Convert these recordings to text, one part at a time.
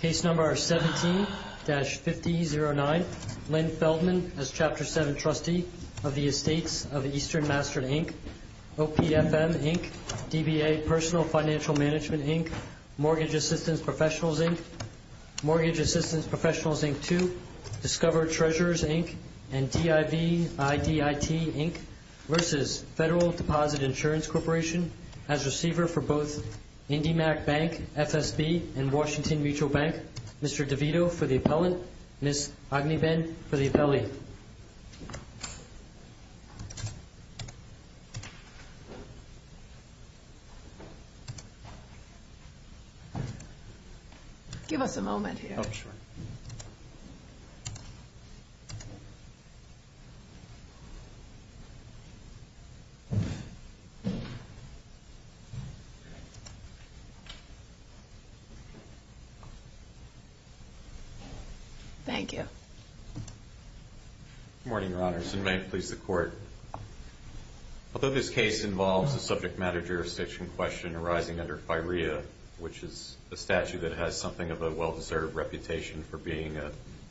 Case No. 17-5009, Lynn Feldman as Chapter 7 Trustee of the Estates of Eastern Mastered, Inc., OPFM, Inc., DBA Personal Financial Management, Inc., Mortgage Assistance Professionals, Inc., Mortgage Assistance Professionals, Inc. 2, Discover Treasurers, Inc., and DIVIDIT, Inc. vs. Federal Deposit Insurance Corporation as Receiver for both IndyMac Bank, FSB, and Washington Mutual Bank. Mr. DeVito for the Appellant. Ms. Ogneben for the Appellee. Give us a moment here. Thank you. Good morning, Your Honors, and may it please the Court. Although this case involves a subject matter jurisdiction question arising under FIREA, which is a statute that has something of a well-deserved reputation for being an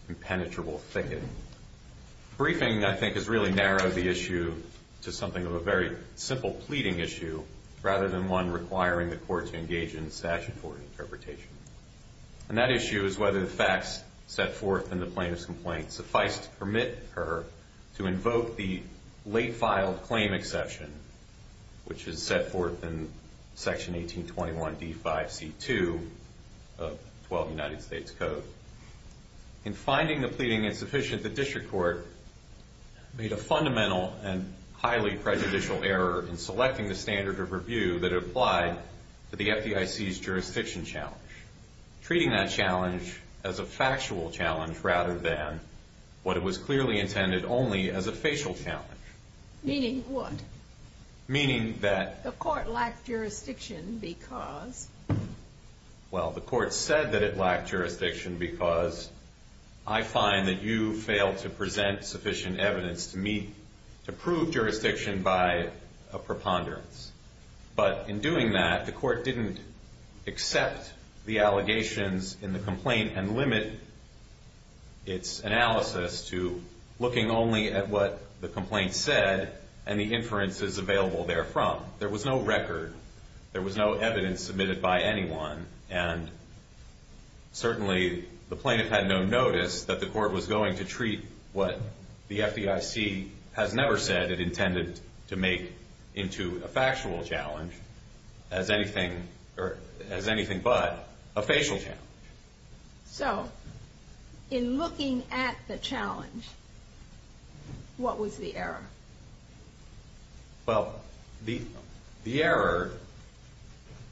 impenetrable thicket, briefing, I think, has really narrowed the issue to something of a very simple pleading issue rather than one requiring the Court to engage in statutory interpretation. And that issue is whether the facts set forth in the plaintiff's complaint suffice to permit her to invoke late-filed claim exception, which is set forth in Section 1821d5c2 of Twelve United States Code. In finding the pleading insufficient, the District Court made a fundamental and highly prejudicial error in selecting the standard of review that applied to the FDIC's jurisdiction challenge, treating that challenge as a factual challenge rather than what was clearly intended only as a facial challenge. Meaning what? Meaning that... The Court lacked jurisdiction because... Well, the Court said that it lacked jurisdiction because I find that you failed to present sufficient evidence to me to prove jurisdiction by a preponderance. But in doing that, the Court didn't accept the allegations in the complaint and limit its analysis to looking only at what the complaint said and the inferences available therefrom. There was no record. There was no evidence submitted by anyone. And certainly, the plaintiff had no notice that the Court was going to treat what the FDIC has never said it intended to make into a factual challenge as anything but a facial challenge. So, in looking at the challenge, what was the error? Well, the error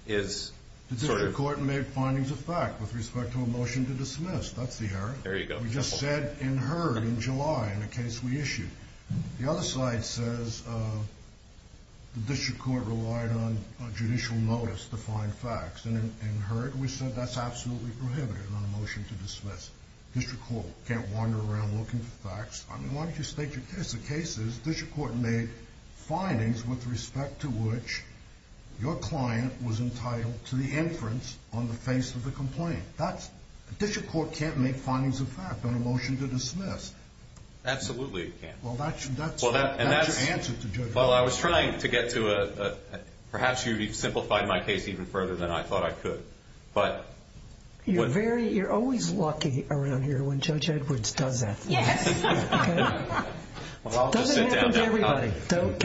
is... The District Court made findings of fact with respect to a motion to dismiss. That's the error. There you go. We just said in heard in July in a case we issued. The other slide says the District Court relied on judicial notice to find facts. And in heard, we said that's absolutely prohibited on a motion to dismiss. The District Court can't wander around looking for facts. I mean, why don't you state your case? The case is the District Court made findings with respect to which your client was entitled to the inference on the face of the complaint. That's... The District Court can't make findings of fact on a motion to dismiss. Absolutely, it can't. Well, that's your answer to... Well, I was trying to get to a... Perhaps you've simplified my case even further than I thought I could. But... You're very... You're always lucky around here when Judge Edwards does that. Yes. Okay? Well, I'll just sit down. Doesn't happen to everybody. Don't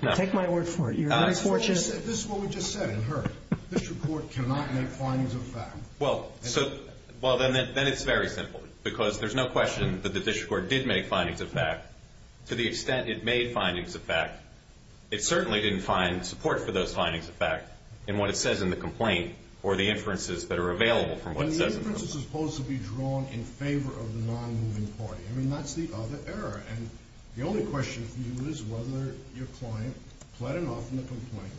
count... Take my word for it. You're very fortunate. This is what we just said in heard. The District Court cannot make findings of fact. Well, so... Well, then it's very simple because there's no question that the District Court did make findings of fact to the extent it made findings of fact. It certainly didn't find support for those findings of fact in what it says in the complaint or the inferences that are available from what it says in the complaint. But the inference is supposed to be drawn in favor of the non-moving party. I mean, that's the other error. And the only question for you is whether your client pled enough in the complaint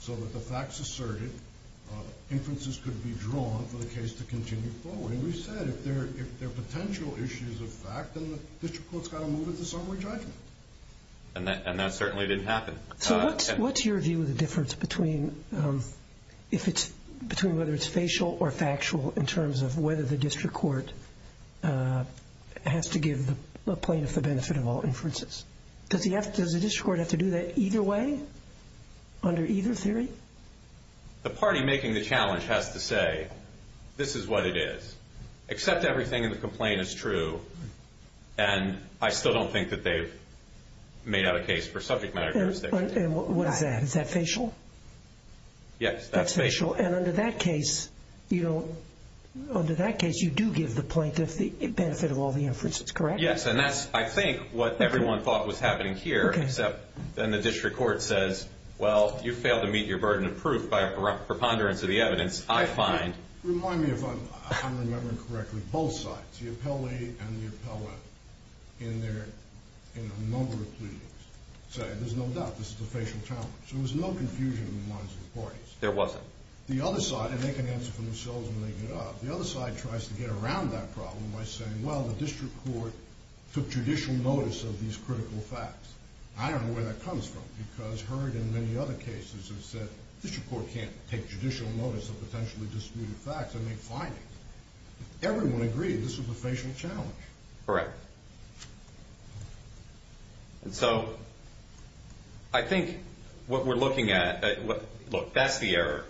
so that the facts asserted, inferences could be drawn for the case to continue forward. And we've said if there are potential issues of fact, then the District Court's got to move it to summary judgment. And that certainly didn't happen. So what's your view of the difference between whether it's facial or factual in terms of whether the District Court has to give the plaintiff the benefit of all inferences? Does the District Court have to do that either way? Under either theory? The party making the challenge has to say, this is what it is. Accept everything in the complaint is true. And I still don't think that they've made out a case for subject matter jurisdiction. And what is that? Is that facial? Yes, that's facial. And under that case, you do give the plaintiff the benefit of all the inferences, correct? Yes, and that's, I think, what everyone thought was happening here, except then the District Court says, well, you failed to meet your burden of proof by preponderance of the evidence, I find. Remind me if I'm remembering correctly, both sides, the appellee and the appellate, in their number of pleadings, say there's no doubt this is a facial challenge. There was no confusion in the minds of the parties. There wasn't. The other side, and they can answer for themselves when they get up, the other side tries to get around that problem by saying, well, the District Court took judicial notice of these critical facts. I don't know where that comes from, because Heard in many other cases has said, District Court can't take judicial notice of potentially disputed facts or make findings. Everyone agreed this was a facial challenge. Correct. And so, I think what we're looking at, look, that's the error,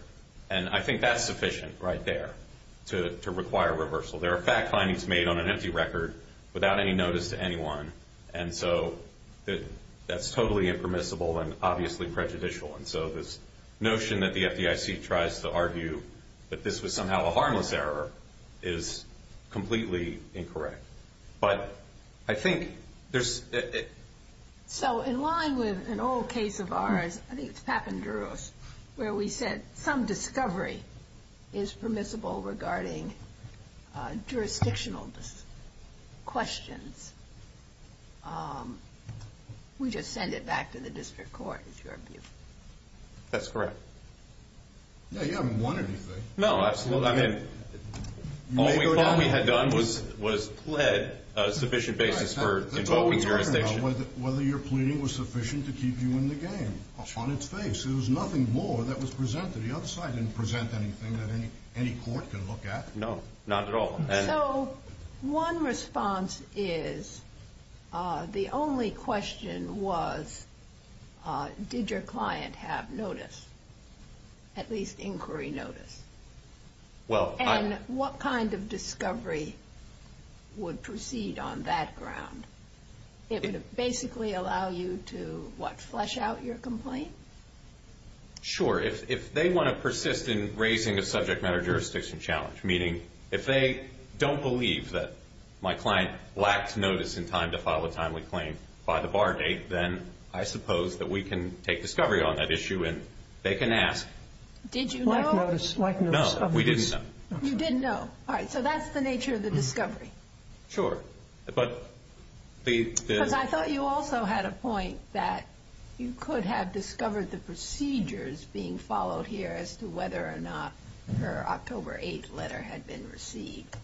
and I think that's sufficient right there to require reversal. There are fact findings made on an empty record without any obviously prejudicial, and so this notion that the FDIC tries to argue that this was somehow a harmless error is completely incorrect. But I think there's... So, in line with an old case of ours, I think it's Papandreou's, where we said some discovery is permissible regarding jurisdictional questions. We just send it back to the District Court, is your view? That's correct. Yeah, you haven't won anything. No, absolutely. I mean, all we thought we had done was plead a sufficient basis for invoking jurisdiction. That's what we were talking about, whether your pleading was sufficient to keep you in the game, on its face. There was nothing more that was presented. The other side didn't present anything that any court could look at. No, not at all. So, one response is, the only question was, did your client have notice, at least inquiry notice? And what kind of discovery would proceed on that ground? It would basically allow you to, what, flesh out your complaint? Sure, if they want to persist in raising a subject matter jurisdiction challenge. Meaning, if they don't believe that my client lacked notice in time to file a timely claim by the bar date, then I suppose that we can take discovery on that issue and they can ask... Did you know? Lack notice. Lack notice. No, we didn't know. You didn't know. All right, so that's the nature of the discovery. Sure, but the... Because I thought you also had a point that you could have discovered the procedures being followed here as to whether or not her October 8th letter had been received.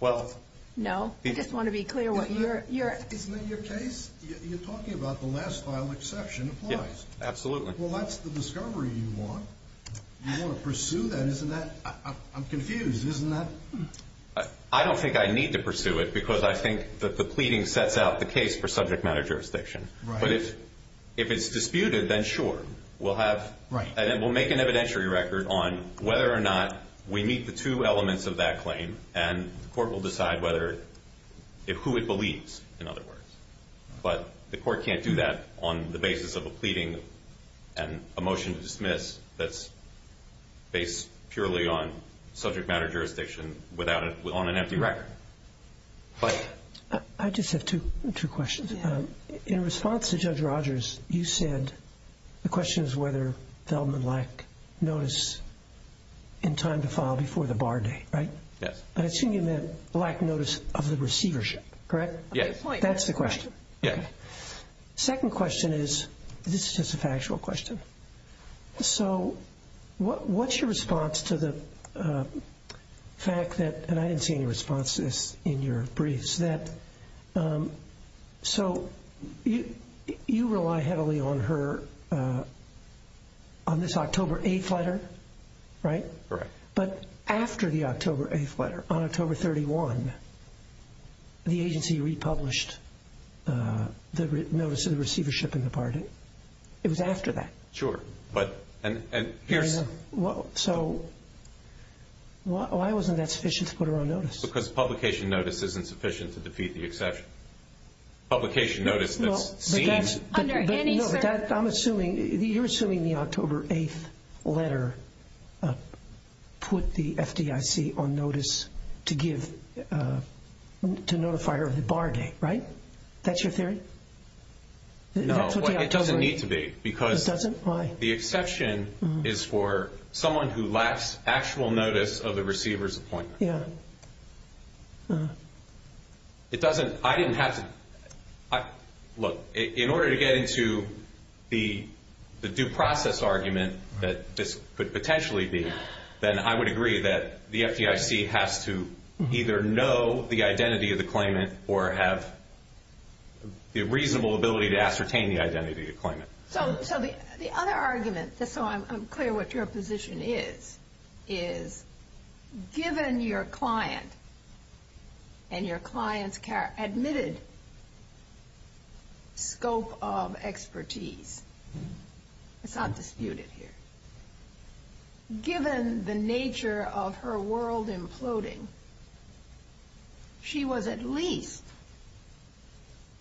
Well... No? I just want to be clear what your... Isn't that your case? You're talking about the last file exception applies. Yeah, absolutely. Well, that's the discovery you want. You want to pursue that, isn't that... I'm confused, isn't that... I don't think I need to pursue it because I think that the pleading sets out the case for subject matter jurisdiction. Right. But if it's disputed, then sure, we'll have... Right. And then we'll make an evidentiary record on whether or not we meet the two elements of that claim and the court will decide whether it... Who it believes, in other words. But the court can't do that on the basis of a pleading and a motion to dismiss that's based purely on subject matter jurisdiction without a... On an empty record. But... I just have two questions. In response to Judge Rogers, you said the question is whether Feldman lacked notice in time to file before the bar date, right? Yes. But I assume you meant lacked notice of the receivership, correct? Yes. That's the question. Yeah. Second question is... This is just a factual question. So what's your response to the fact that... And I didn't see any responses in your briefs that... So you rely heavily on her... On this October 8th letter, right? Correct. But after the October 8th letter, on October 31, the agency republished the notice of the receivership in the bar date. It was after that. Sure. But... And here's... So why wasn't that sufficient to put her on notice? Because publication notice isn't sufficient to defeat the exception. Publication notice that's seen... Under any circumstance... I'm assuming... You're assuming the October 8th letter put the FDIC on notice to give... To notify her of the bar date, right? That's your theory? No. Well, it doesn't need to be because... It doesn't? Why? The exception is for someone who lacks actual notice of the receiver's appointment. Yeah. It doesn't... I didn't have to... Look, in order to get into the due process argument that this could potentially be, then I would agree that the FDIC has to either know the reasonable ability to ascertain the identity of the appointment. So the other argument, just so I'm clear what your position is, is given your client and your client's admitted scope of expertise... It's not disputed here. Given the nature of her world imploding, she was at least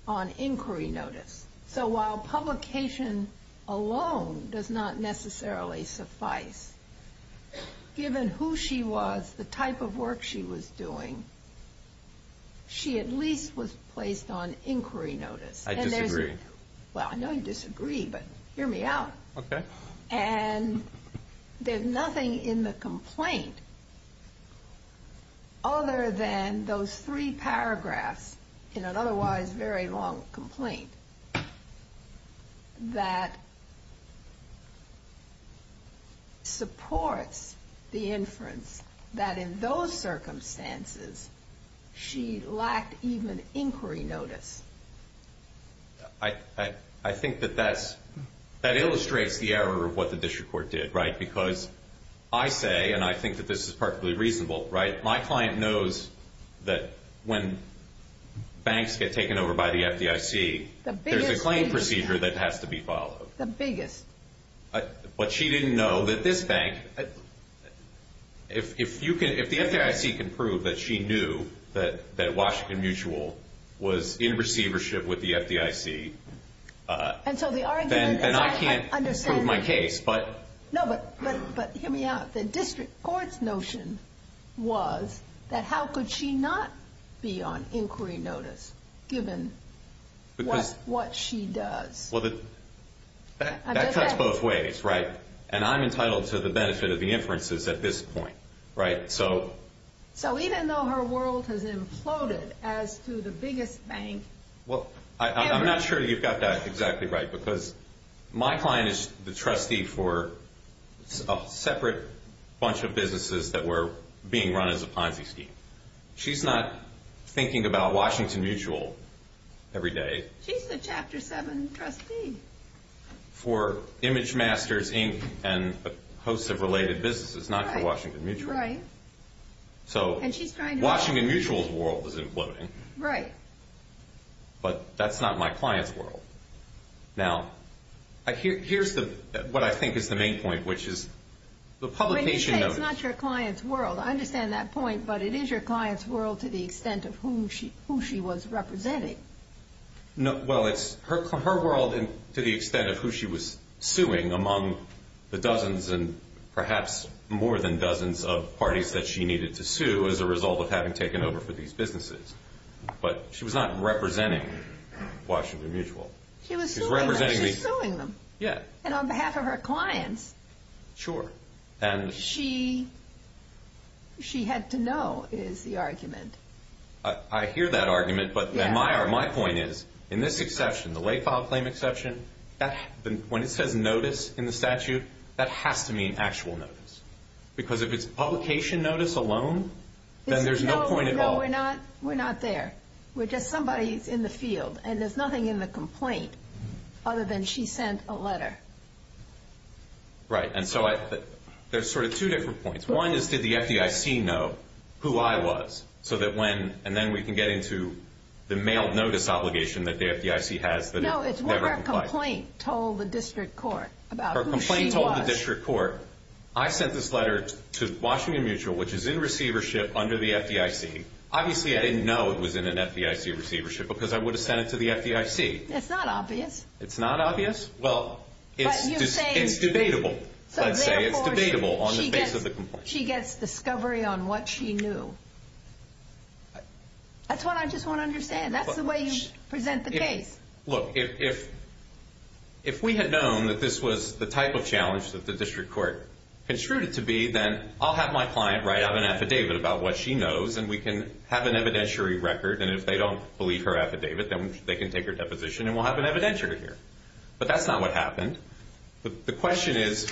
on inquiry notice. So while publication alone does not necessarily suffice, given who she was, the type of work she was doing, she at least was placed on inquiry notice. I disagree. Well, I know you disagree, but hear me out. Okay. And there's nothing in the complaint other than those three paragraphs in an otherwise very long complaint that supports the inference that in those circumstances, she lacked even inquiry notice. I think that illustrates the error of what the district court did, right? Because I say, and I think that this is perfectly reasonable, right? My client knows that when banks get taken over by the FDIC, there's a claim procedure that has to be followed. The biggest. But she didn't know that this bank... If the FDIC can prove that she knew that Washington Mutual was in receivership with the FDIC, then I can't prove my case, but... No, but hear me out. The district court's notion was that how could she not be on inquiry notice given what she does? That cuts both ways, right? And I'm entitled to the benefit of the inferences at this point, right? So even though her world has imploded as to the biggest bank... Well, I'm not sure you've got that exactly right because my client is the trustee for a separate bunch of businesses that were being run as a Ponzi scheme. She's not thinking about Washington Mutual every day. She's the chapter seven trustee. For Image Masters, Inc. and hosts of related businesses, not for Washington Mutual. So Washington Mutual's world was imploding, but that's not my client's world. Now, here's what I think is the main point, which is the publication... When you say it's not your client's world, I understand that point, but it is your client's world to the extent of who she was representing. Well, it's her world to the extent of who she was suing among the dozens and perhaps more than dozens of parties that she needed to sue as a result of having taken over for these businesses. But she was not representing Washington Mutual. She was suing them. Yeah. And on behalf of her clients. Sure. She had to know is the argument. I hear that argument, but my point is, in this exception, the lay file claim exception, when it says notice in the statute, that has to mean actual notice. Because if it's publication notice alone, then there's no point at all. No, we're not there. We're just somebody in the field, and there's nothing in the complaint other than she sent a letter. Right. And so there's sort of two different points. One is did the FDIC know who I was so that when, and then we can get into the mail notice obligation that the FDIC has that No, it's what her complaint told the district court about who she was. Her complaint told the district court, I sent this letter to Washington Mutual, which is in receivership under the FDIC. Obviously, I didn't know it was in an FDIC receivership because I would have sent it to the FDIC. It's not obvious. It's not obvious? Well, it's debatable. Let's say it's debatable on the face of the complaint. She gets discovery on what she knew. That's what I just want to understand. That's the way you present the case. Look, if we had known that this was the type of challenge that the district court construed it to be, then I'll have my client write out an affidavit about what she knows, and we can have an evidentiary record. And if they don't believe her affidavit, then they can take her deposition, and we'll have an evidentiary here. But that's not what happened. The question is,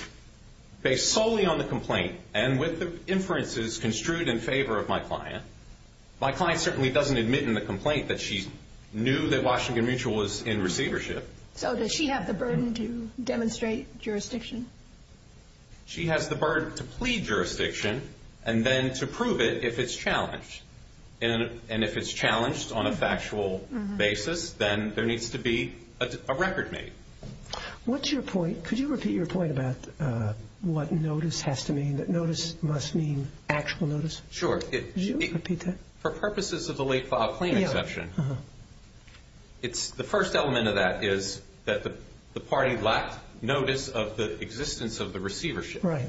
based solely on the complaint and with the inferences construed in favor of my client, my client certainly doesn't admit in the complaint that she knew that Washington Mutual was in receivership. So does she have the burden to demonstrate jurisdiction? She has the burden to plead jurisdiction and then to prove it if it's challenged. And if it's challenged on a factual basis, then there needs to be a record made. What's your point? Could you repeat your point about what notice has to mean, that notice must mean actual notice? Sure. Could you repeat that? For purposes of the late-file claim exception, the first element of that is that the party lacked notice of the existence of the receivership. Right.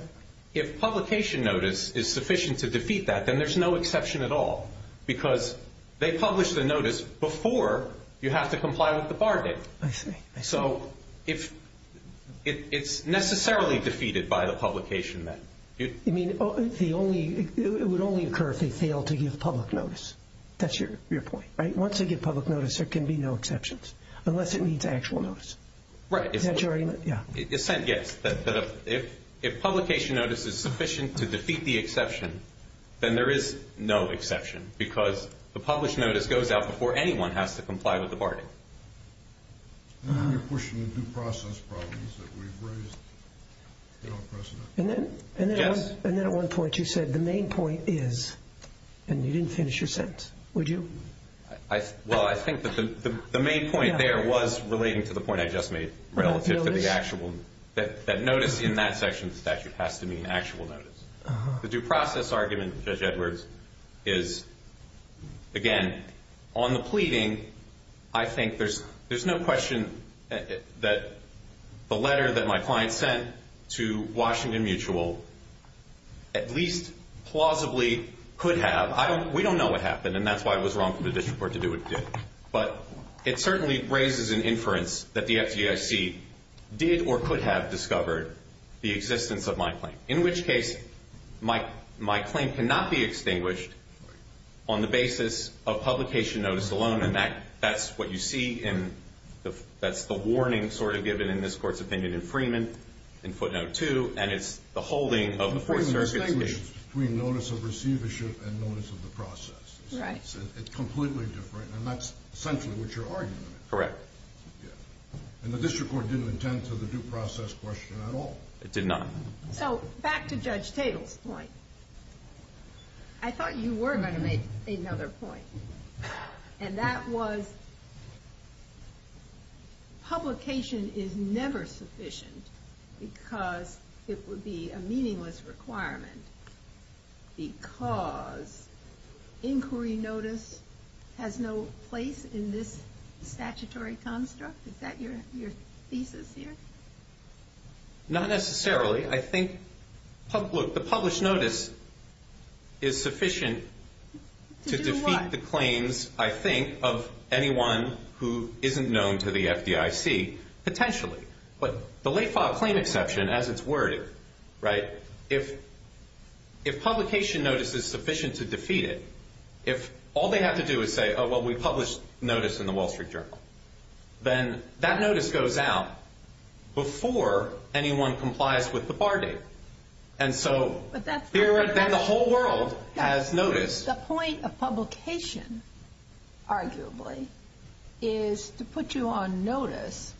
If publication notice is sufficient to defeat that, then there's no exception at all because they publish the notice before you have to comply with the bargain. I see. So it's necessarily defeated by the publication then. You mean it would only occur if they failed to give public notice. That's your point, right? Once they give public notice, there can be no exceptions unless it means actual notice. Right. Is that your argument? Yeah. Yes. If publication notice is sufficient to defeat the exception, then there is no exception because the published notice goes out before anyone has to comply with the bargain. You're pushing the due process problems that we've raised. And then at one point you said the main point is, and you didn't finish your sentence, would you? Well, I think that the main point there was relating to the point I just made relative to the actual, that notice in that section of the statute has to mean actual notice. The due process argument, Judge Edwards, is, again, on the pleading, I think there's no question that the letter that my client sent to Washington Mutual at least plausibly could have. We don't know what happened, and that's why it was wrong for the district court to do what it did. But it certainly raises an inference that the FDIC did or could have discovered the existence of my claim, in which case my claim cannot be extinguished on the basis of publication notice alone. And that's what you see, and that's the warning sort of given in this Court's opinion in Freeman, in footnote 2, and it's the holding of the Fourth Circuit's case. The point is it's distinguished between notice of receivership and notice of the process. Right. It's completely different, and that's essentially what you're arguing. Correct. Yeah. And the district court didn't attend to the due process question at all. It did not. So back to Judge Tatel's point, I thought you were going to make another point, and that was publication is never sufficient because it would be a meaningless requirement because inquiry notice has no place in this statutory construct? Is that your thesis here? Not necessarily. I think the published notice is sufficient to defeat the claims, I think, of anyone who isn't known to the FDIC potentially. But the late-file claim exception, as it's worded, right, if publication notice is sufficient to defeat it, if all they have to do is say, oh, well, we published notice in the Wall Street Journal, then that notice goes out before anyone complies with the bar date. And so then the whole world has notice. The point of publication, arguably, is to put you on notice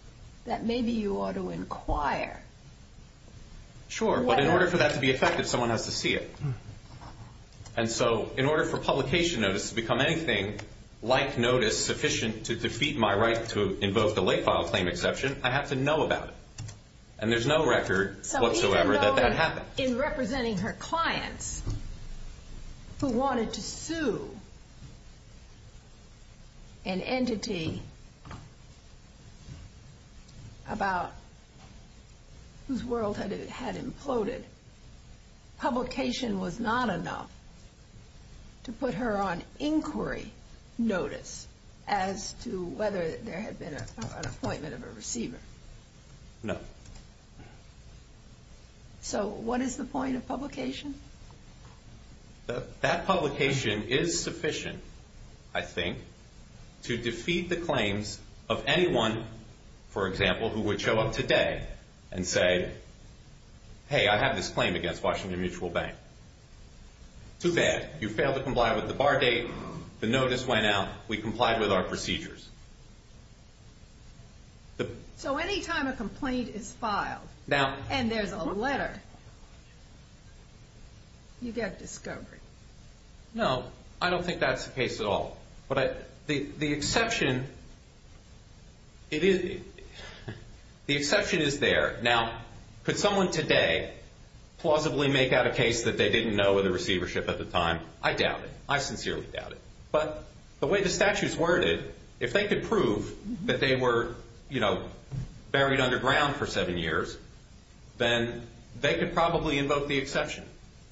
that maybe you ought to inquire. Sure. But in order for that to be effective, someone has to see it. And so in order for publication notice to become anything like notice sufficient to defeat my right to invoke the late-file claim exception, I have to know about it. And there's no record whatsoever that that happened. In representing her clients who wanted to sue an entity about whose world it had imploded, publication was not enough to put her on inquiry notice as to whether there had been an appointment of a receiver. No. So what is the point of publication? That publication is sufficient, I think, to defeat the claims of anyone, for example, who would show up today and say, hey, I have this claim against Washington Mutual Bank. Too bad. You failed to comply with the bar date. The notice went out. We complied with our procedures. So any time a complaint is filed and there's a letter, you get discovery. No. I don't think that's the case at all. But the exception is there. Now, could someone today plausibly make out a case that they didn't know with a receivership at the time? I doubt it. I sincerely doubt it. But the way the statute's worded, if they could prove that they were buried underground for seven years, then they could probably invoke the exception.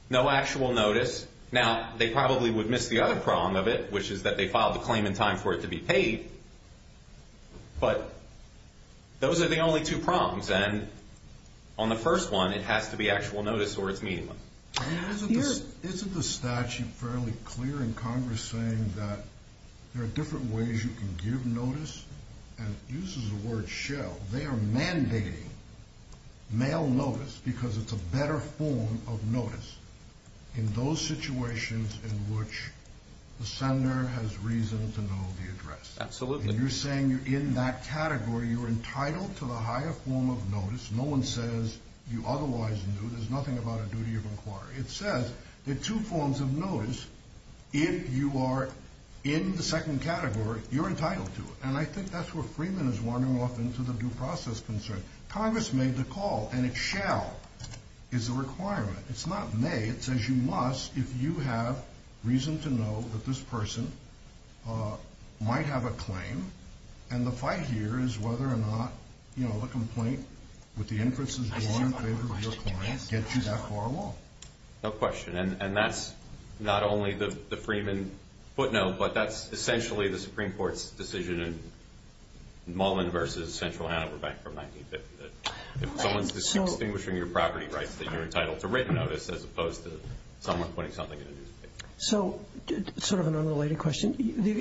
No actual notice. Now, they probably would miss the other problem of it, which is that they filed the claim in time for it to be paid. But those are the only two problems. And on the first one, it has to be actual notice or it's meaningless. Isn't the statute fairly clear in Congress saying that there are different ways you can give notice? And it uses the word shell. They are mandating mail notice because it's a better form of notice in those situations in which the sender has reason to know the address. Absolutely. And you're saying you're in that category. You're entitled to the higher form of notice. No one says you otherwise knew. There's nothing about a duty of inquiry. It says there are two forms of notice. If you are in the second category, you're entitled to it. And I think that's where Freeman is wandering off into the due process concern. Congress made the call, and it shall is a requirement. It's not may. It says you must if you have reason to know that this person might have a claim. And the fight here is whether or not the complaint with the inferences drawn in favor of your client gets you that far along. No question. And that's not only the Freeman footnote, but that's essentially the Supreme Court's decision in Mullen v. Central Hanover Bank from 1950. If someone's distinguishing your property rights, then you're entitled to written notice as opposed to someone putting something in a newspaper. So sort of an unrelated question.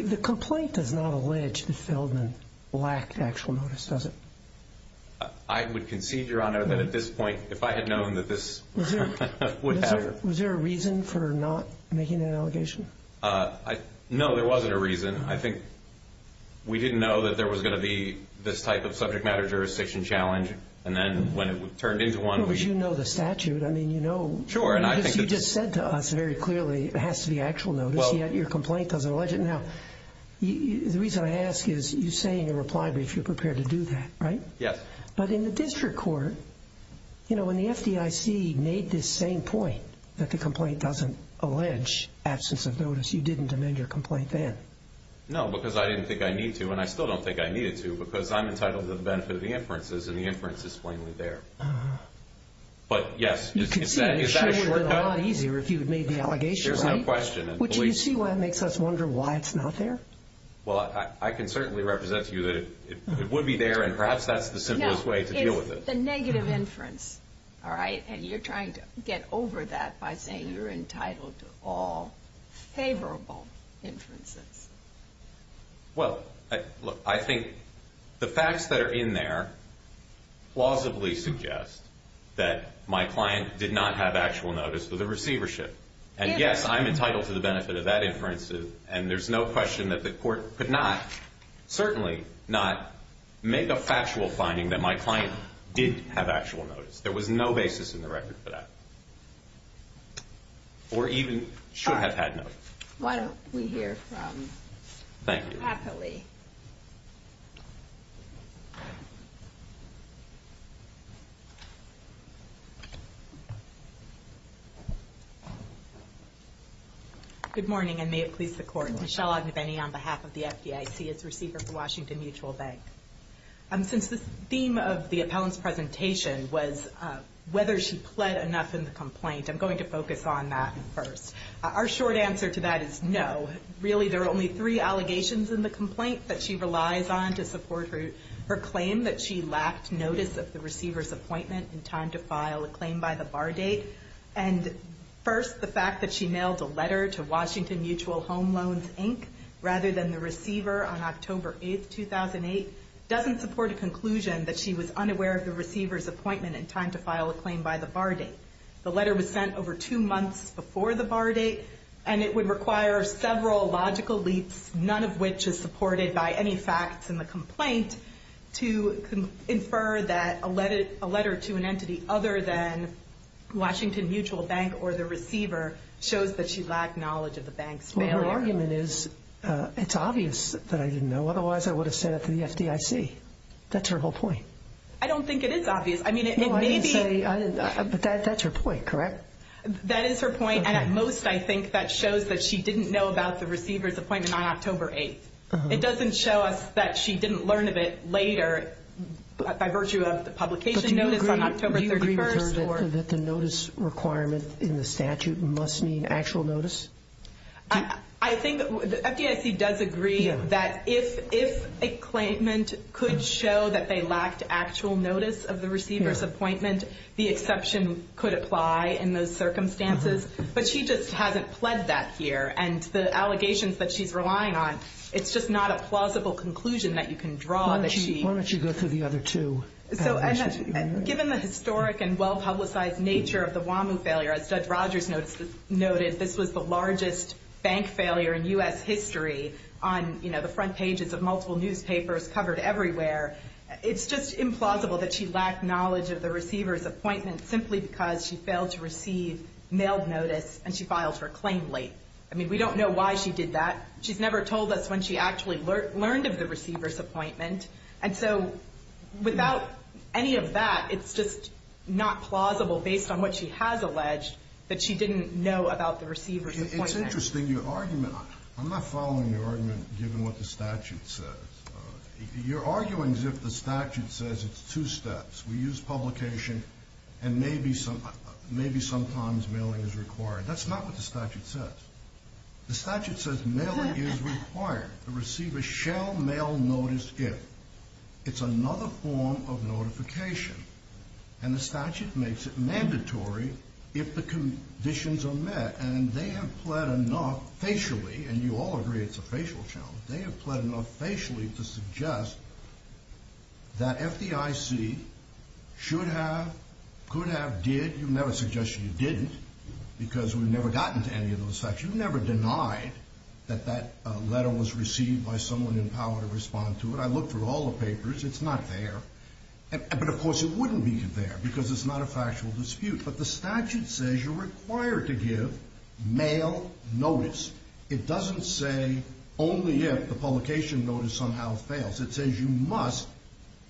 The complaint does not allege that Feldman lacked actual notice, does it? I would concede, Your Honor, that at this point, if I had known that this would happen. Was there a reason for not making that allegation? No, there wasn't a reason. I think we didn't know that there was going to be this type of subject matter jurisdiction challenge. And then when it turned into one, we – But you know the statute. I mean, you know – Sure, and I think – What you said to us very clearly has to be actual notice, yet your complaint doesn't allege it. Now, the reason I ask is you say in your reply brief you're prepared to do that, right? Yes. But in the district court, you know, when the FDIC made this same point that the complaint doesn't allege absence of notice, you didn't amend your complaint then. No, because I didn't think I need to, and I still don't think I needed to, because I'm entitled to the benefit of the inferences, and the inference is plainly there. But, yes, is that a shortcut? You can see, it would have been a lot easier if you had made the allegation, right? There's no question. Would you see why that makes us wonder why it's not there? Well, I can certainly represent to you that it would be there, and perhaps that's the simplest way to deal with it. No, it's the negative inference, all right? And you're trying to get over that by saying you're entitled to all favorable inferences. Well, look, I think the facts that are in there plausibly suggest that my client did not have actual notice of the receivership. And, yes, I'm entitled to the benefit of that inference, and there's no question that the court could not, certainly not, make a factual finding that my client did have actual notice. There was no basis in the record for that, or even should have had notice. Why don't we hear from Dr. Happily? Good morning, and may it please the Court. Michelle Ogneveni on behalf of the FDIC as receiver for Washington Mutual Bank. Since the theme of the appellant's presentation was whether she pled enough in the complaint, I'm going to focus on that first. Our short answer to that is no. Really, there are only three allegations in the complaint that she relies on to support her claim that she lacked notice of the receiver's appointment in time to file a claim by the bar date. And, first, the fact that she mailed a letter to Washington Mutual Home Loans, Inc., rather than the receiver on October 8, 2008, doesn't support a conclusion that she was unaware of the receiver's appointment in time to file a claim by the bar date. The letter was sent over two months before the bar date, and it would require several logical leaps, none of which is supported by any facts in the complaint, to infer that a letter to an entity other than Washington Mutual Bank or the receiver shows that she lacked knowledge of the bank's mail order. Well, her argument is, it's obvious that I didn't know. Otherwise, I would have sent it to the FDIC. That's her whole point. I don't think it is obvious. That's her point, correct? That is her point, and at most I think that shows that she didn't know about the receiver's appointment on October 8. It doesn't show us that she didn't learn of it later by virtue of the publication notice on October 31. Do you agree with her that the notice requirement in the statute must mean actual notice? I think the FDIC does agree that if a claimant could show that they lacked actual notice of the receiver's appointment, the exception could apply in those circumstances. But she just hasn't pled that here, and the allegations that she's relying on, it's just not a plausible conclusion that you can draw. Why don't you go through the other two? Given the historic and well-publicized nature of the Whamu failure, as Judge Rogers noted, this was the largest bank failure in U.S. history on the front pages of multiple newspapers covered everywhere. It's just implausible that she lacked knowledge of the receiver's appointment simply because she failed to receive mailed notice, and she filed her claim late. I mean, we don't know why she did that. She's never told us when she actually learned of the receiver's appointment. And so without any of that, it's just not plausible based on what she has alleged that she didn't know about the receiver's appointment. It's interesting your argument. I'm not following your argument given what the statute says. You're arguing as if the statute says it's two steps. We use publication, and maybe sometimes mailing is required. That's not what the statute says. The statute says mailing is required. The receiver shall mail notice if. It's another form of notification, and the statute makes it mandatory if the conditions are met, and they have pled enough facially, and you all agree it's a facial challenge. They have pled enough facially to suggest that FDIC should have, could have, did. You've never suggested you didn't because we've never gotten to any of those facts. You've never denied that that letter was received by someone in power to respond to it. I looked through all the papers. It's not there. But, of course, it wouldn't be there because it's not a factual dispute. But the statute says you're required to give mail notice. It doesn't say only if the publication notice somehow fails. It says you must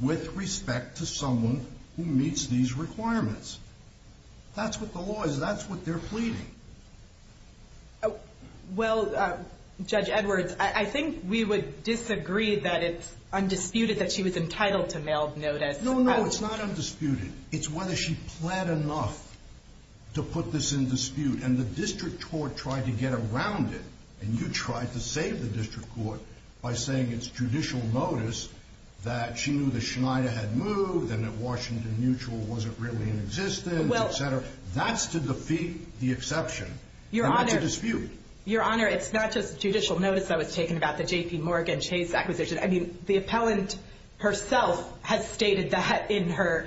with respect to someone who meets these requirements. That's what the law is. That's what they're pleading. Well, Judge Edwards, I think we would disagree that it's undisputed that she was entitled to mail notice. No, no, it's not undisputed. It's whether she pled enough to put this in dispute, and the district court tried to get around it, and you tried to save the district court by saying it's judicial notice that she knew that Schneider had moved and that Washington Mutual wasn't really in existence, et cetera. That's to defeat the exception and not to dispute. Your Honor, it's not just judicial notice that was taken about the JPMorgan Chase acquisition. I mean, the appellant herself has stated that in her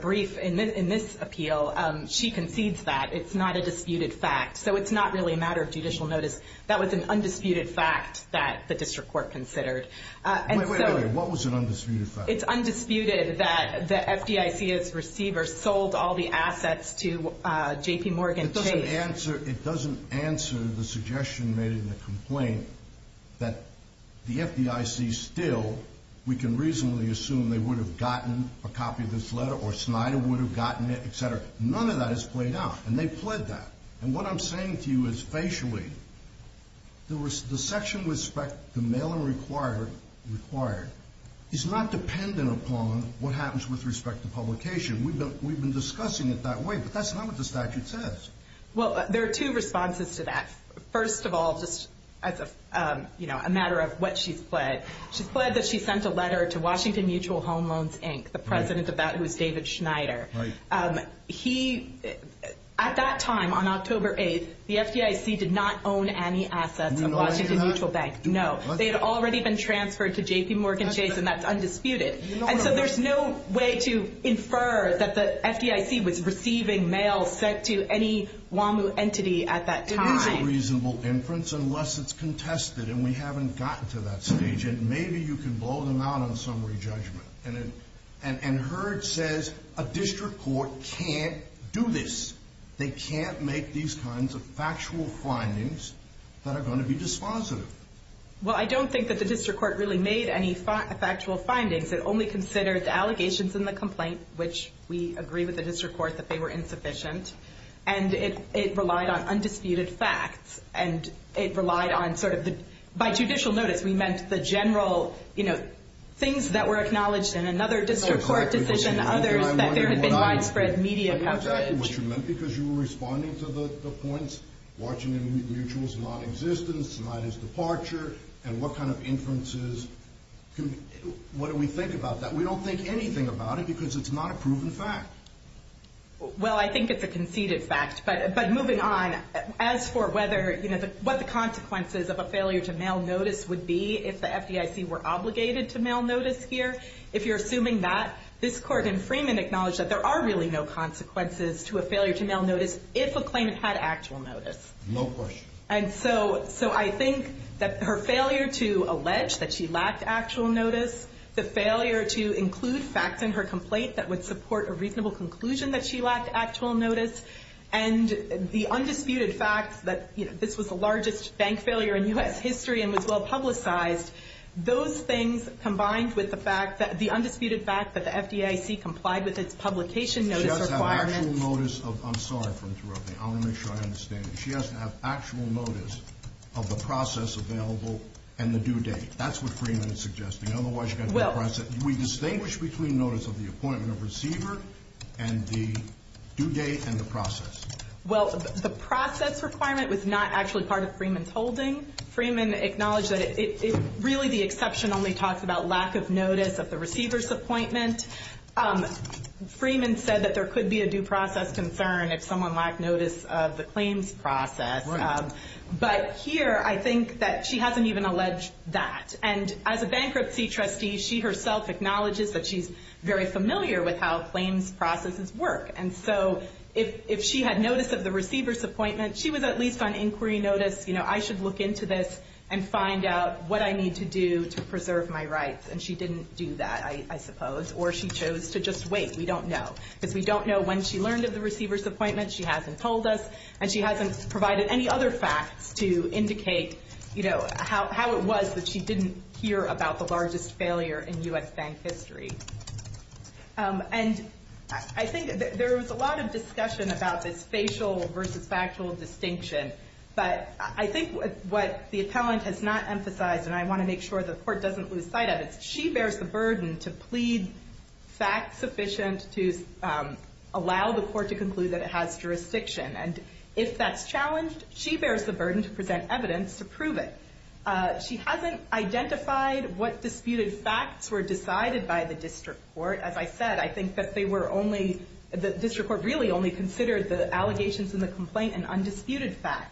brief in this appeal. She concedes that. It's not a disputed fact. So it's not really a matter of judicial notice. That was an undisputed fact that the district court considered. Wait, wait, wait. What was an undisputed fact? It's undisputed that the FDIC's receiver sold all the assets to JPMorgan Chase. It doesn't answer the suggestion made in the complaint that the FDIC still, we can reasonably assume, they would have gotten a copy of this letter or Schneider would have gotten it, et cetera. None of that is played out, and they pled that. And what I'm saying to you is, facially, the section with respect to mail-in required is not dependent upon what happens with respect to publication. We've been discussing it that way, but that's not what the statute says. Well, there are two responses to that. First of all, just as a matter of what she's pled, she's pled that she sent a letter to Washington Mutual Home Loans, Inc., the president of that, who is David Schneider. At that time, on October 8th, the FDIC did not own any assets of Washington Mutual Bank. No. They had already been transferred to JPMorgan Chase, and that's undisputed. And so there's no way to infer that the FDIC was receiving mail sent to any WAMU entity at that time. It is a reasonable inference, unless it's contested, and we haven't gotten to that stage. And maybe you can blow them out on summary judgment. And Herd says a district court can't do this. They can't make these kinds of factual findings that are going to be dispositive. Well, I don't think that the district court really made any factual findings. It only considered the allegations in the complaint, which we agree with the district court that they were insufficient, and it relied on undisputed facts, and it relied on sort of the— No, exactly. What you meant because you were responding to the points, Washington Mutual's non-existence, Schneider's departure, and what kind of inferences. What do we think about that? We don't think anything about it because it's not a proven fact. Well, I think it's a conceded fact. But moving on, as for what the consequences of a failure to mail notice would be if the FDIC were obligated to mail notice here, if you're assuming that, this court in Freeman acknowledged that there are really no consequences to a failure to mail notice if a claimant had actual notice. No question. And so I think that her failure to allege that she lacked actual notice, the failure to include facts in her complaint that would support a reasonable conclusion that she lacked actual notice, and the undisputed fact that this was the largest bank failure in U.S. history and was well publicized, those things combined with the undisputed fact that the FDIC complied with its publication notice requirements. She doesn't have actual notice of the process available and the due date. That's what Freeman is suggesting. We distinguish between notice of the appointment of receiver and the due date and the process. Well, the process requirement was not actually part of Freeman's holding. Freeman acknowledged that really the exception only talks about lack of notice of the receiver's appointment. Freeman said that there could be a due process concern if someone lacked notice of the claims process. But here I think that she hasn't even alleged that. And as a bankruptcy trustee, she herself acknowledges that she's very familiar with how claims processes work. And so if she had notice of the receiver's appointment, she was at least on inquiry notice. You know, I should look into this and find out what I need to do to preserve my rights. And she didn't do that, I suppose. Or she chose to just wait. We don't know. Because we don't know when she learned of the receiver's appointment. She hasn't told us. And she hasn't provided any other facts to indicate, you know, how it was that she didn't hear about the largest failure in U.S. bank history. And I think there was a lot of discussion about this facial versus factual distinction. But I think what the appellant has not emphasized, and I want to make sure the court doesn't lose sight of it, is she bears the burden to plead facts sufficient to allow the court to conclude that it has jurisdiction. And if that's challenged, she bears the burden to present evidence to prove it. She hasn't identified what disputed facts were decided by the district court. As I said, I think that the district court really only considered the allegations in the complaint and undisputed facts.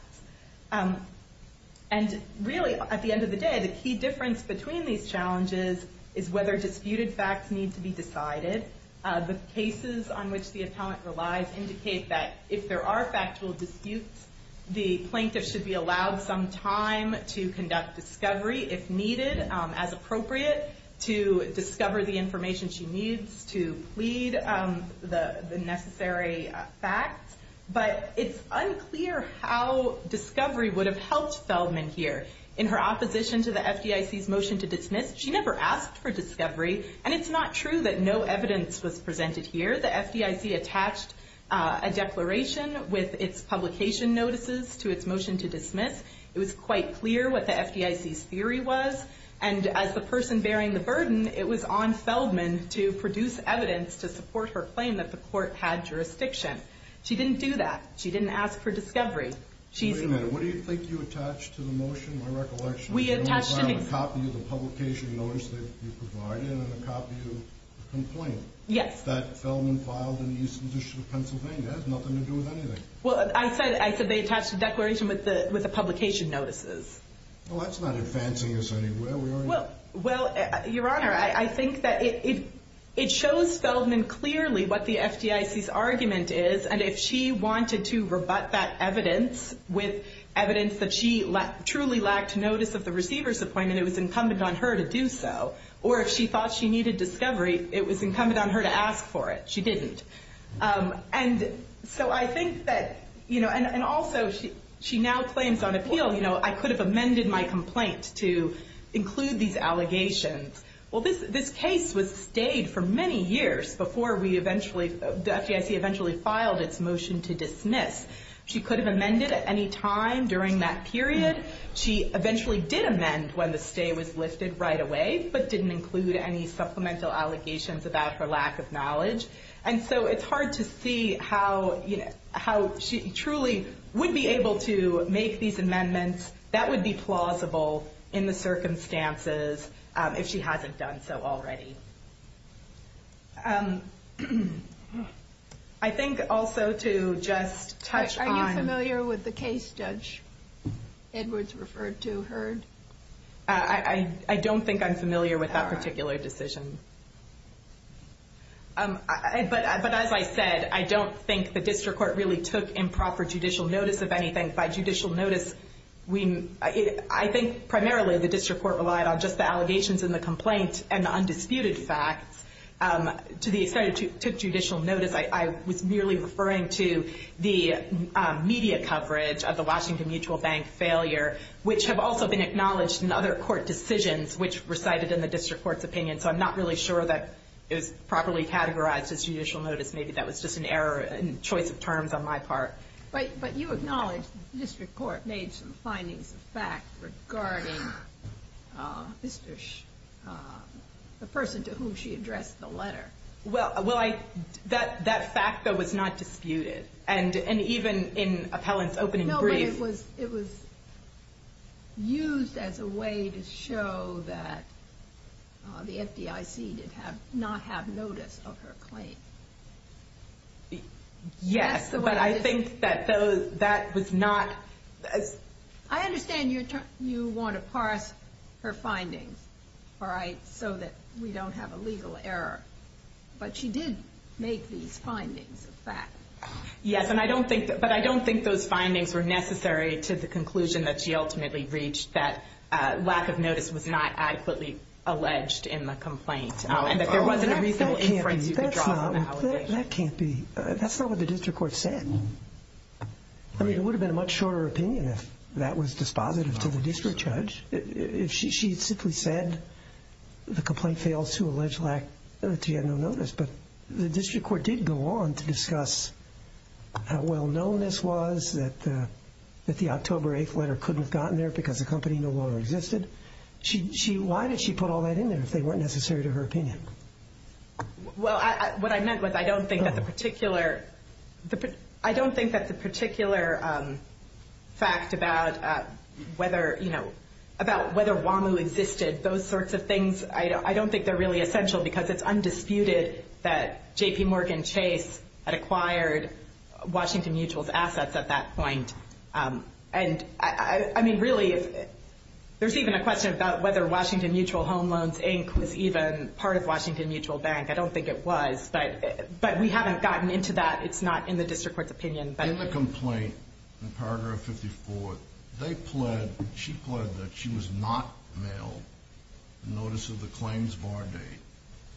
And really, at the end of the day, the key difference between these challenges is whether disputed facts need to be decided. The cases on which the appellant relies indicate that if there are factual disputes, the plaintiff should be allowed some time to conduct discovery, if needed, as appropriate, to discover the information she needs to plead the necessary facts. But it's unclear how discovery would have helped Feldman here. In her opposition to the FDIC's motion to dismiss, she never asked for discovery. And it's not true that no evidence was presented here. The FDIC attached a declaration with its publication notices to its motion to dismiss. It was quite clear what the FDIC's theory was. And as the person bearing the burden, it was on Feldman to produce evidence to support her claim that the court had jurisdiction. She didn't do that. She didn't ask for discovery. Wait a minute. What do you think you attached to the motion, my recollection? We attached to the motion. A copy of the publication notice that you provided and a copy of the complaint. Yes. That Feldman filed in the Eastern District of Pennsylvania has nothing to do with anything. Well, I said they attached a declaration with the publication notices. Well, that's not advancing us anywhere. Well, Your Honor, I think that it shows Feldman clearly what the FDIC's argument is. And if she wanted to rebut that evidence with evidence that she truly lacked notice of the receiver's appointment, it was incumbent on her to do so. Or if she thought she needed discovery, it was incumbent on her to ask for it. She didn't. And so I think that, you know, and also she now claims on appeal, you know, I could have amended my complaint to include these allegations. Well, this case was stayed for many years before we eventually, the FDIC eventually filed its motion to dismiss. She could have amended at any time during that period. She eventually did amend when the stay was lifted right away, but didn't include any supplemental allegations about her lack of knowledge. And so it's hard to see how, you know, how she truly would be able to make these amendments. That would be plausible in the circumstances if she hasn't done so already. I think also to just touch on. Are you familiar with the case Judge Edwards referred to heard? I don't think I'm familiar with that particular decision. But as I said, I don't think the district court really took improper judicial notice of anything. By judicial notice, I think primarily the district court relied on just the allegations in the complaint and undisputed facts. To the extent it took judicial notice, I was merely referring to the media coverage of the Washington Mutual Bank failure, which have also been acknowledged in other court decisions, which recited in the district court's opinion. So I'm not really sure that it was properly categorized as judicial notice. Maybe that was just an error in choice of terms on my part. But you acknowledge the district court made some findings of fact regarding the person to whom she addressed the letter. Well, that fact, though, was not disputed. And even in appellant's opening brief. It was used as a way to show that the FDIC did not have notice of her claim. Yes, but I think that that was not. I understand you want to parse her findings, all right, so that we don't have a legal error. But she did make these findings of fact. Yes, and I don't think that but I don't think those findings were necessary to the conclusion that she ultimately reached that lack of notice was not adequately alleged in the complaint and that there wasn't a reasonable inference. That can't be. That's not what the district court said. I mean, it would have been a much shorter opinion if that was dispositive to the district judge. She simply said the complaint fails to allege lack of notice. But the district court did go on to discuss how well known this was, that the October 8th letter couldn't have gotten there because the company no longer existed. Why did she put all that in there if they weren't necessary to her opinion? Well, what I meant was I don't think that the particular I don't think that the particular fact about whether, you know, about whether WAMU existed, those sorts of things, I don't think they're really essential because it's undisputed that JPMorgan Chase had acquired Washington Mutual's assets at that point. And I mean, really, there's even a question about whether Washington Mutual Home Loans Inc. was even part of Washington Mutual Bank. I don't think it was. But we haven't gotten into that. It's not in the district court's opinion. In the complaint, in paragraph 54, they pled, she pled that she was not mailed a notice of the claims var date.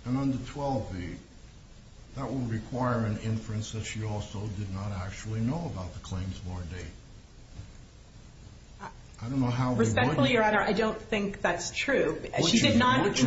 And under 12b, that would require an inference that she also did not actually know about the claims var date. I don't know how we would... Respectfully, Your Honor, I don't think that's true. She did not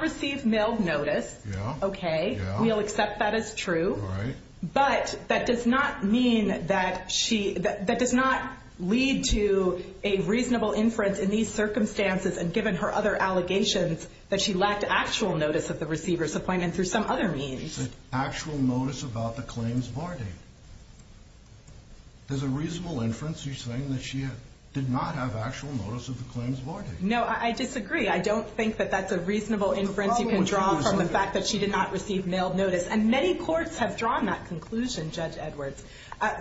receive mailed notice. Okay. We'll accept that as true. All right. But that does not mean that she, that does not lead to a reasonable inference in these circumstances. And given her other allegations, that she lacked actual notice of the receiver's appointment through some other means. Actual notice about the claims var date. There's a reasonable inference. You're saying that she did not have actual notice of the claims var date. No, I disagree. I don't think that that's a reasonable inference you can draw from the fact that she did not receive mailed notice. And many courts have drawn that conclusion, Judge Edwards.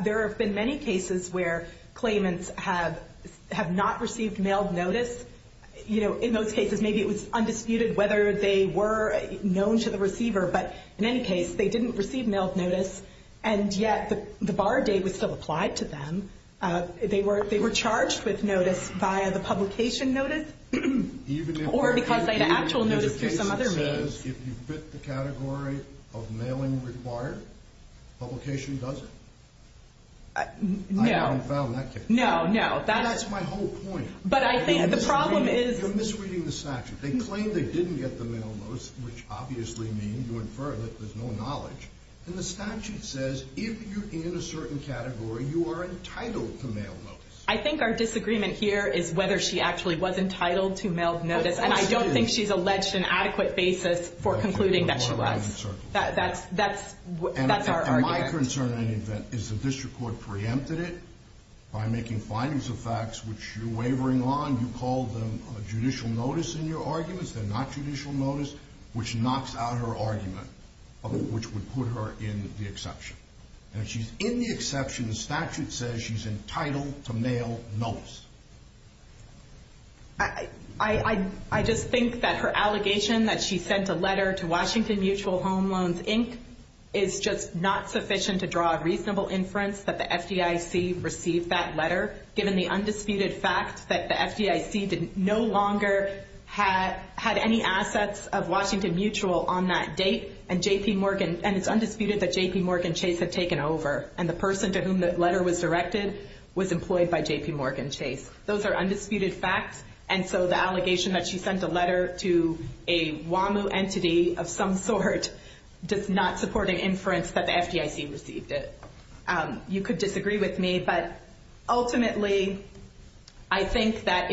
There have been many cases where claimants have not received mailed notice. You know, in those cases, maybe it was undisputed whether they were known to the receiver. But in any case, they didn't receive mailed notice. And yet the var date was still applied to them. They were charged with notice via the publication notice. Or because they had actual notice through some other means. If you fit the category of mailing required, publication does it? No. I haven't found that case. No, no. That's my whole point. But I think the problem is. You're misreading the statute. They claim they didn't get the mailed notice, which obviously means you infer that there's no knowledge. And the statute says if you're in a certain category, you are entitled to mailed notice. I think our disagreement here is whether she actually was entitled to mailed notice. And I don't think she's alleged an adequate basis for concluding that she was. That's our argument. And my concern is that the district court preempted it by making findings of facts which you're wavering on. You called them judicial notice in your arguments. They're not judicial notice, which knocks out her argument, which would put her in the exception. And she's in the exception. The statute says she's entitled to mailed notice. I just think that her allegation that she sent a letter to Washington Mutual Home Loans, Inc., is just not sufficient to draw a reasonable inference that the FDIC received that letter, given the undisputed fact that the FDIC no longer had any assets of Washington Mutual on that date. And it's undisputed that JPMorgan Chase had taken over. And the person to whom that letter was directed was employed by JPMorgan Chase. Those are undisputed facts. And so the allegation that she sent a letter to a WAMU entity of some sort does not support an inference that the FDIC received it. You could disagree with me, but ultimately, I think that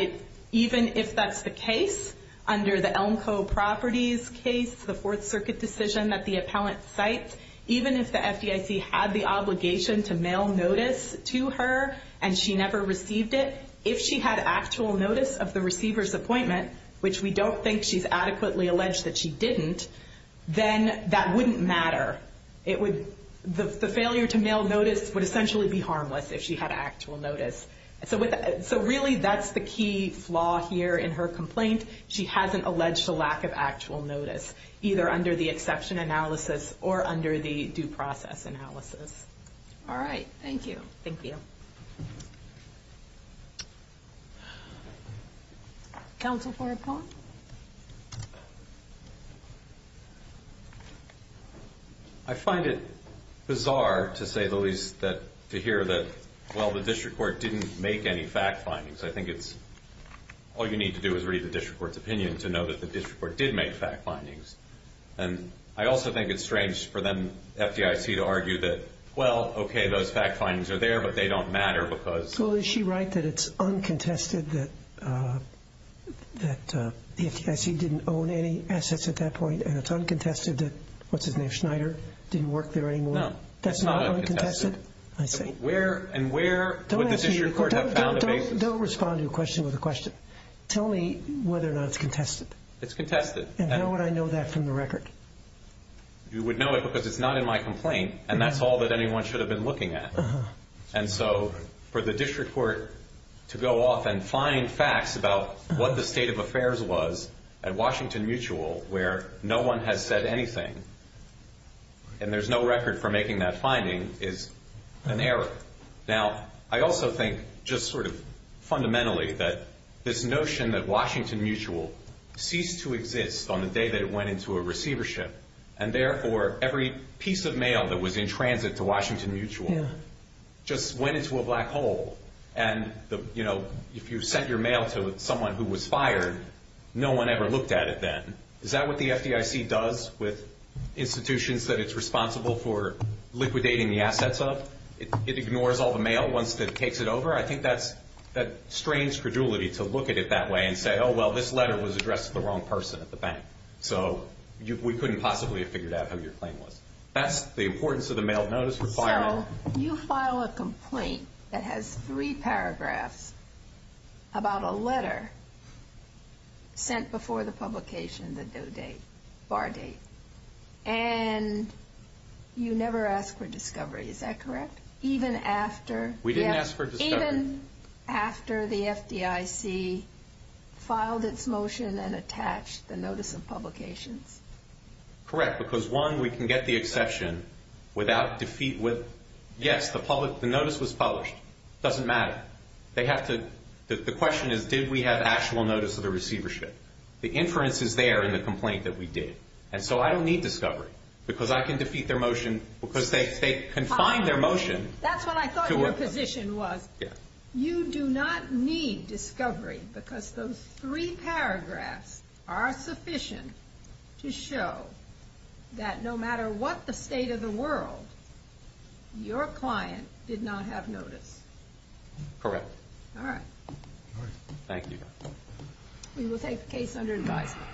even if that's the case, under the Elmco Properties case, the Fourth Circuit decision that the appellant cites, even if the FDIC had the obligation to mail notice to her and she never received it, if she had actual notice of the receiver's appointment, which we don't think she's adequately alleged that she didn't, then that wouldn't matter. The failure to mail notice would essentially be harmless if she had actual notice. So really, that's the key flaw here in her complaint. She hasn't alleged a lack of actual notice, either under the exception analysis or under the due process analysis. All right. Thank you. Thank you. Counsel Ford Pong? I find it bizarre, to say the least, to hear that, well, the district court didn't make any fact findings. I think it's all you need to do is read the district court's opinion to know that the district court did make fact findings. And I also think it's strange for them, the FDIC, to argue that, well, okay, those fact findings are there, but they don't matter because ‑‑ Well, is she right that it's uncontested that the FDIC didn't own any assets at that point, and it's uncontested that, what's his name, Schneider, didn't work there anymore? No. That's not uncontested? That's not uncontested. I see. Don't respond to a question with a question. Tell me whether or not it's contested. It's contested. And how would I know that from the record? You would know it because it's not in my complaint, and that's all that anyone should have been looking at. And so for the district court to go off and find facts about what the state of affairs was at Washington Mutual, where no one has said anything, and there's no record for making that finding, is an error. Now, I also think just sort of fundamentally that this notion that Washington Mutual ceased to exist on the day that it went into a receivership, and therefore every piece of mail that was in transit to Washington Mutual just went into a black hole. And, you know, if you sent your mail to someone who was fired, no one ever looked at it then. Is that what the FDIC does with institutions that it's responsible for liquidating the assets of? It ignores all the mail once it takes it over? I think that strains credulity to look at it that way and say, oh, well, this letter was addressed to the wrong person at the bank, so we couldn't possibly have figured out who your claim was. That's the importance of the mail of notice requirement. So you file a complaint that has three paragraphs about a letter sent before the publication, the due date, bar date, and you never ask for discovery. Is that correct? We didn't ask for discovery. Even after the FDIC filed its motion and attached the notice of publications? Correct, because, one, we can get the exception without defeat with, yes, the notice was published. It doesn't matter. The question is, did we have actual notice of the receivership? The inference is there in the complaint that we did. And so I don't need discovery because I can defeat their motion because they confined their motion. That's what I thought your position was. You do not need discovery because those three paragraphs are sufficient to show that no matter what the state of the world, your client did not have notice. Correct. All right. Thank you. We will take the case under advisement.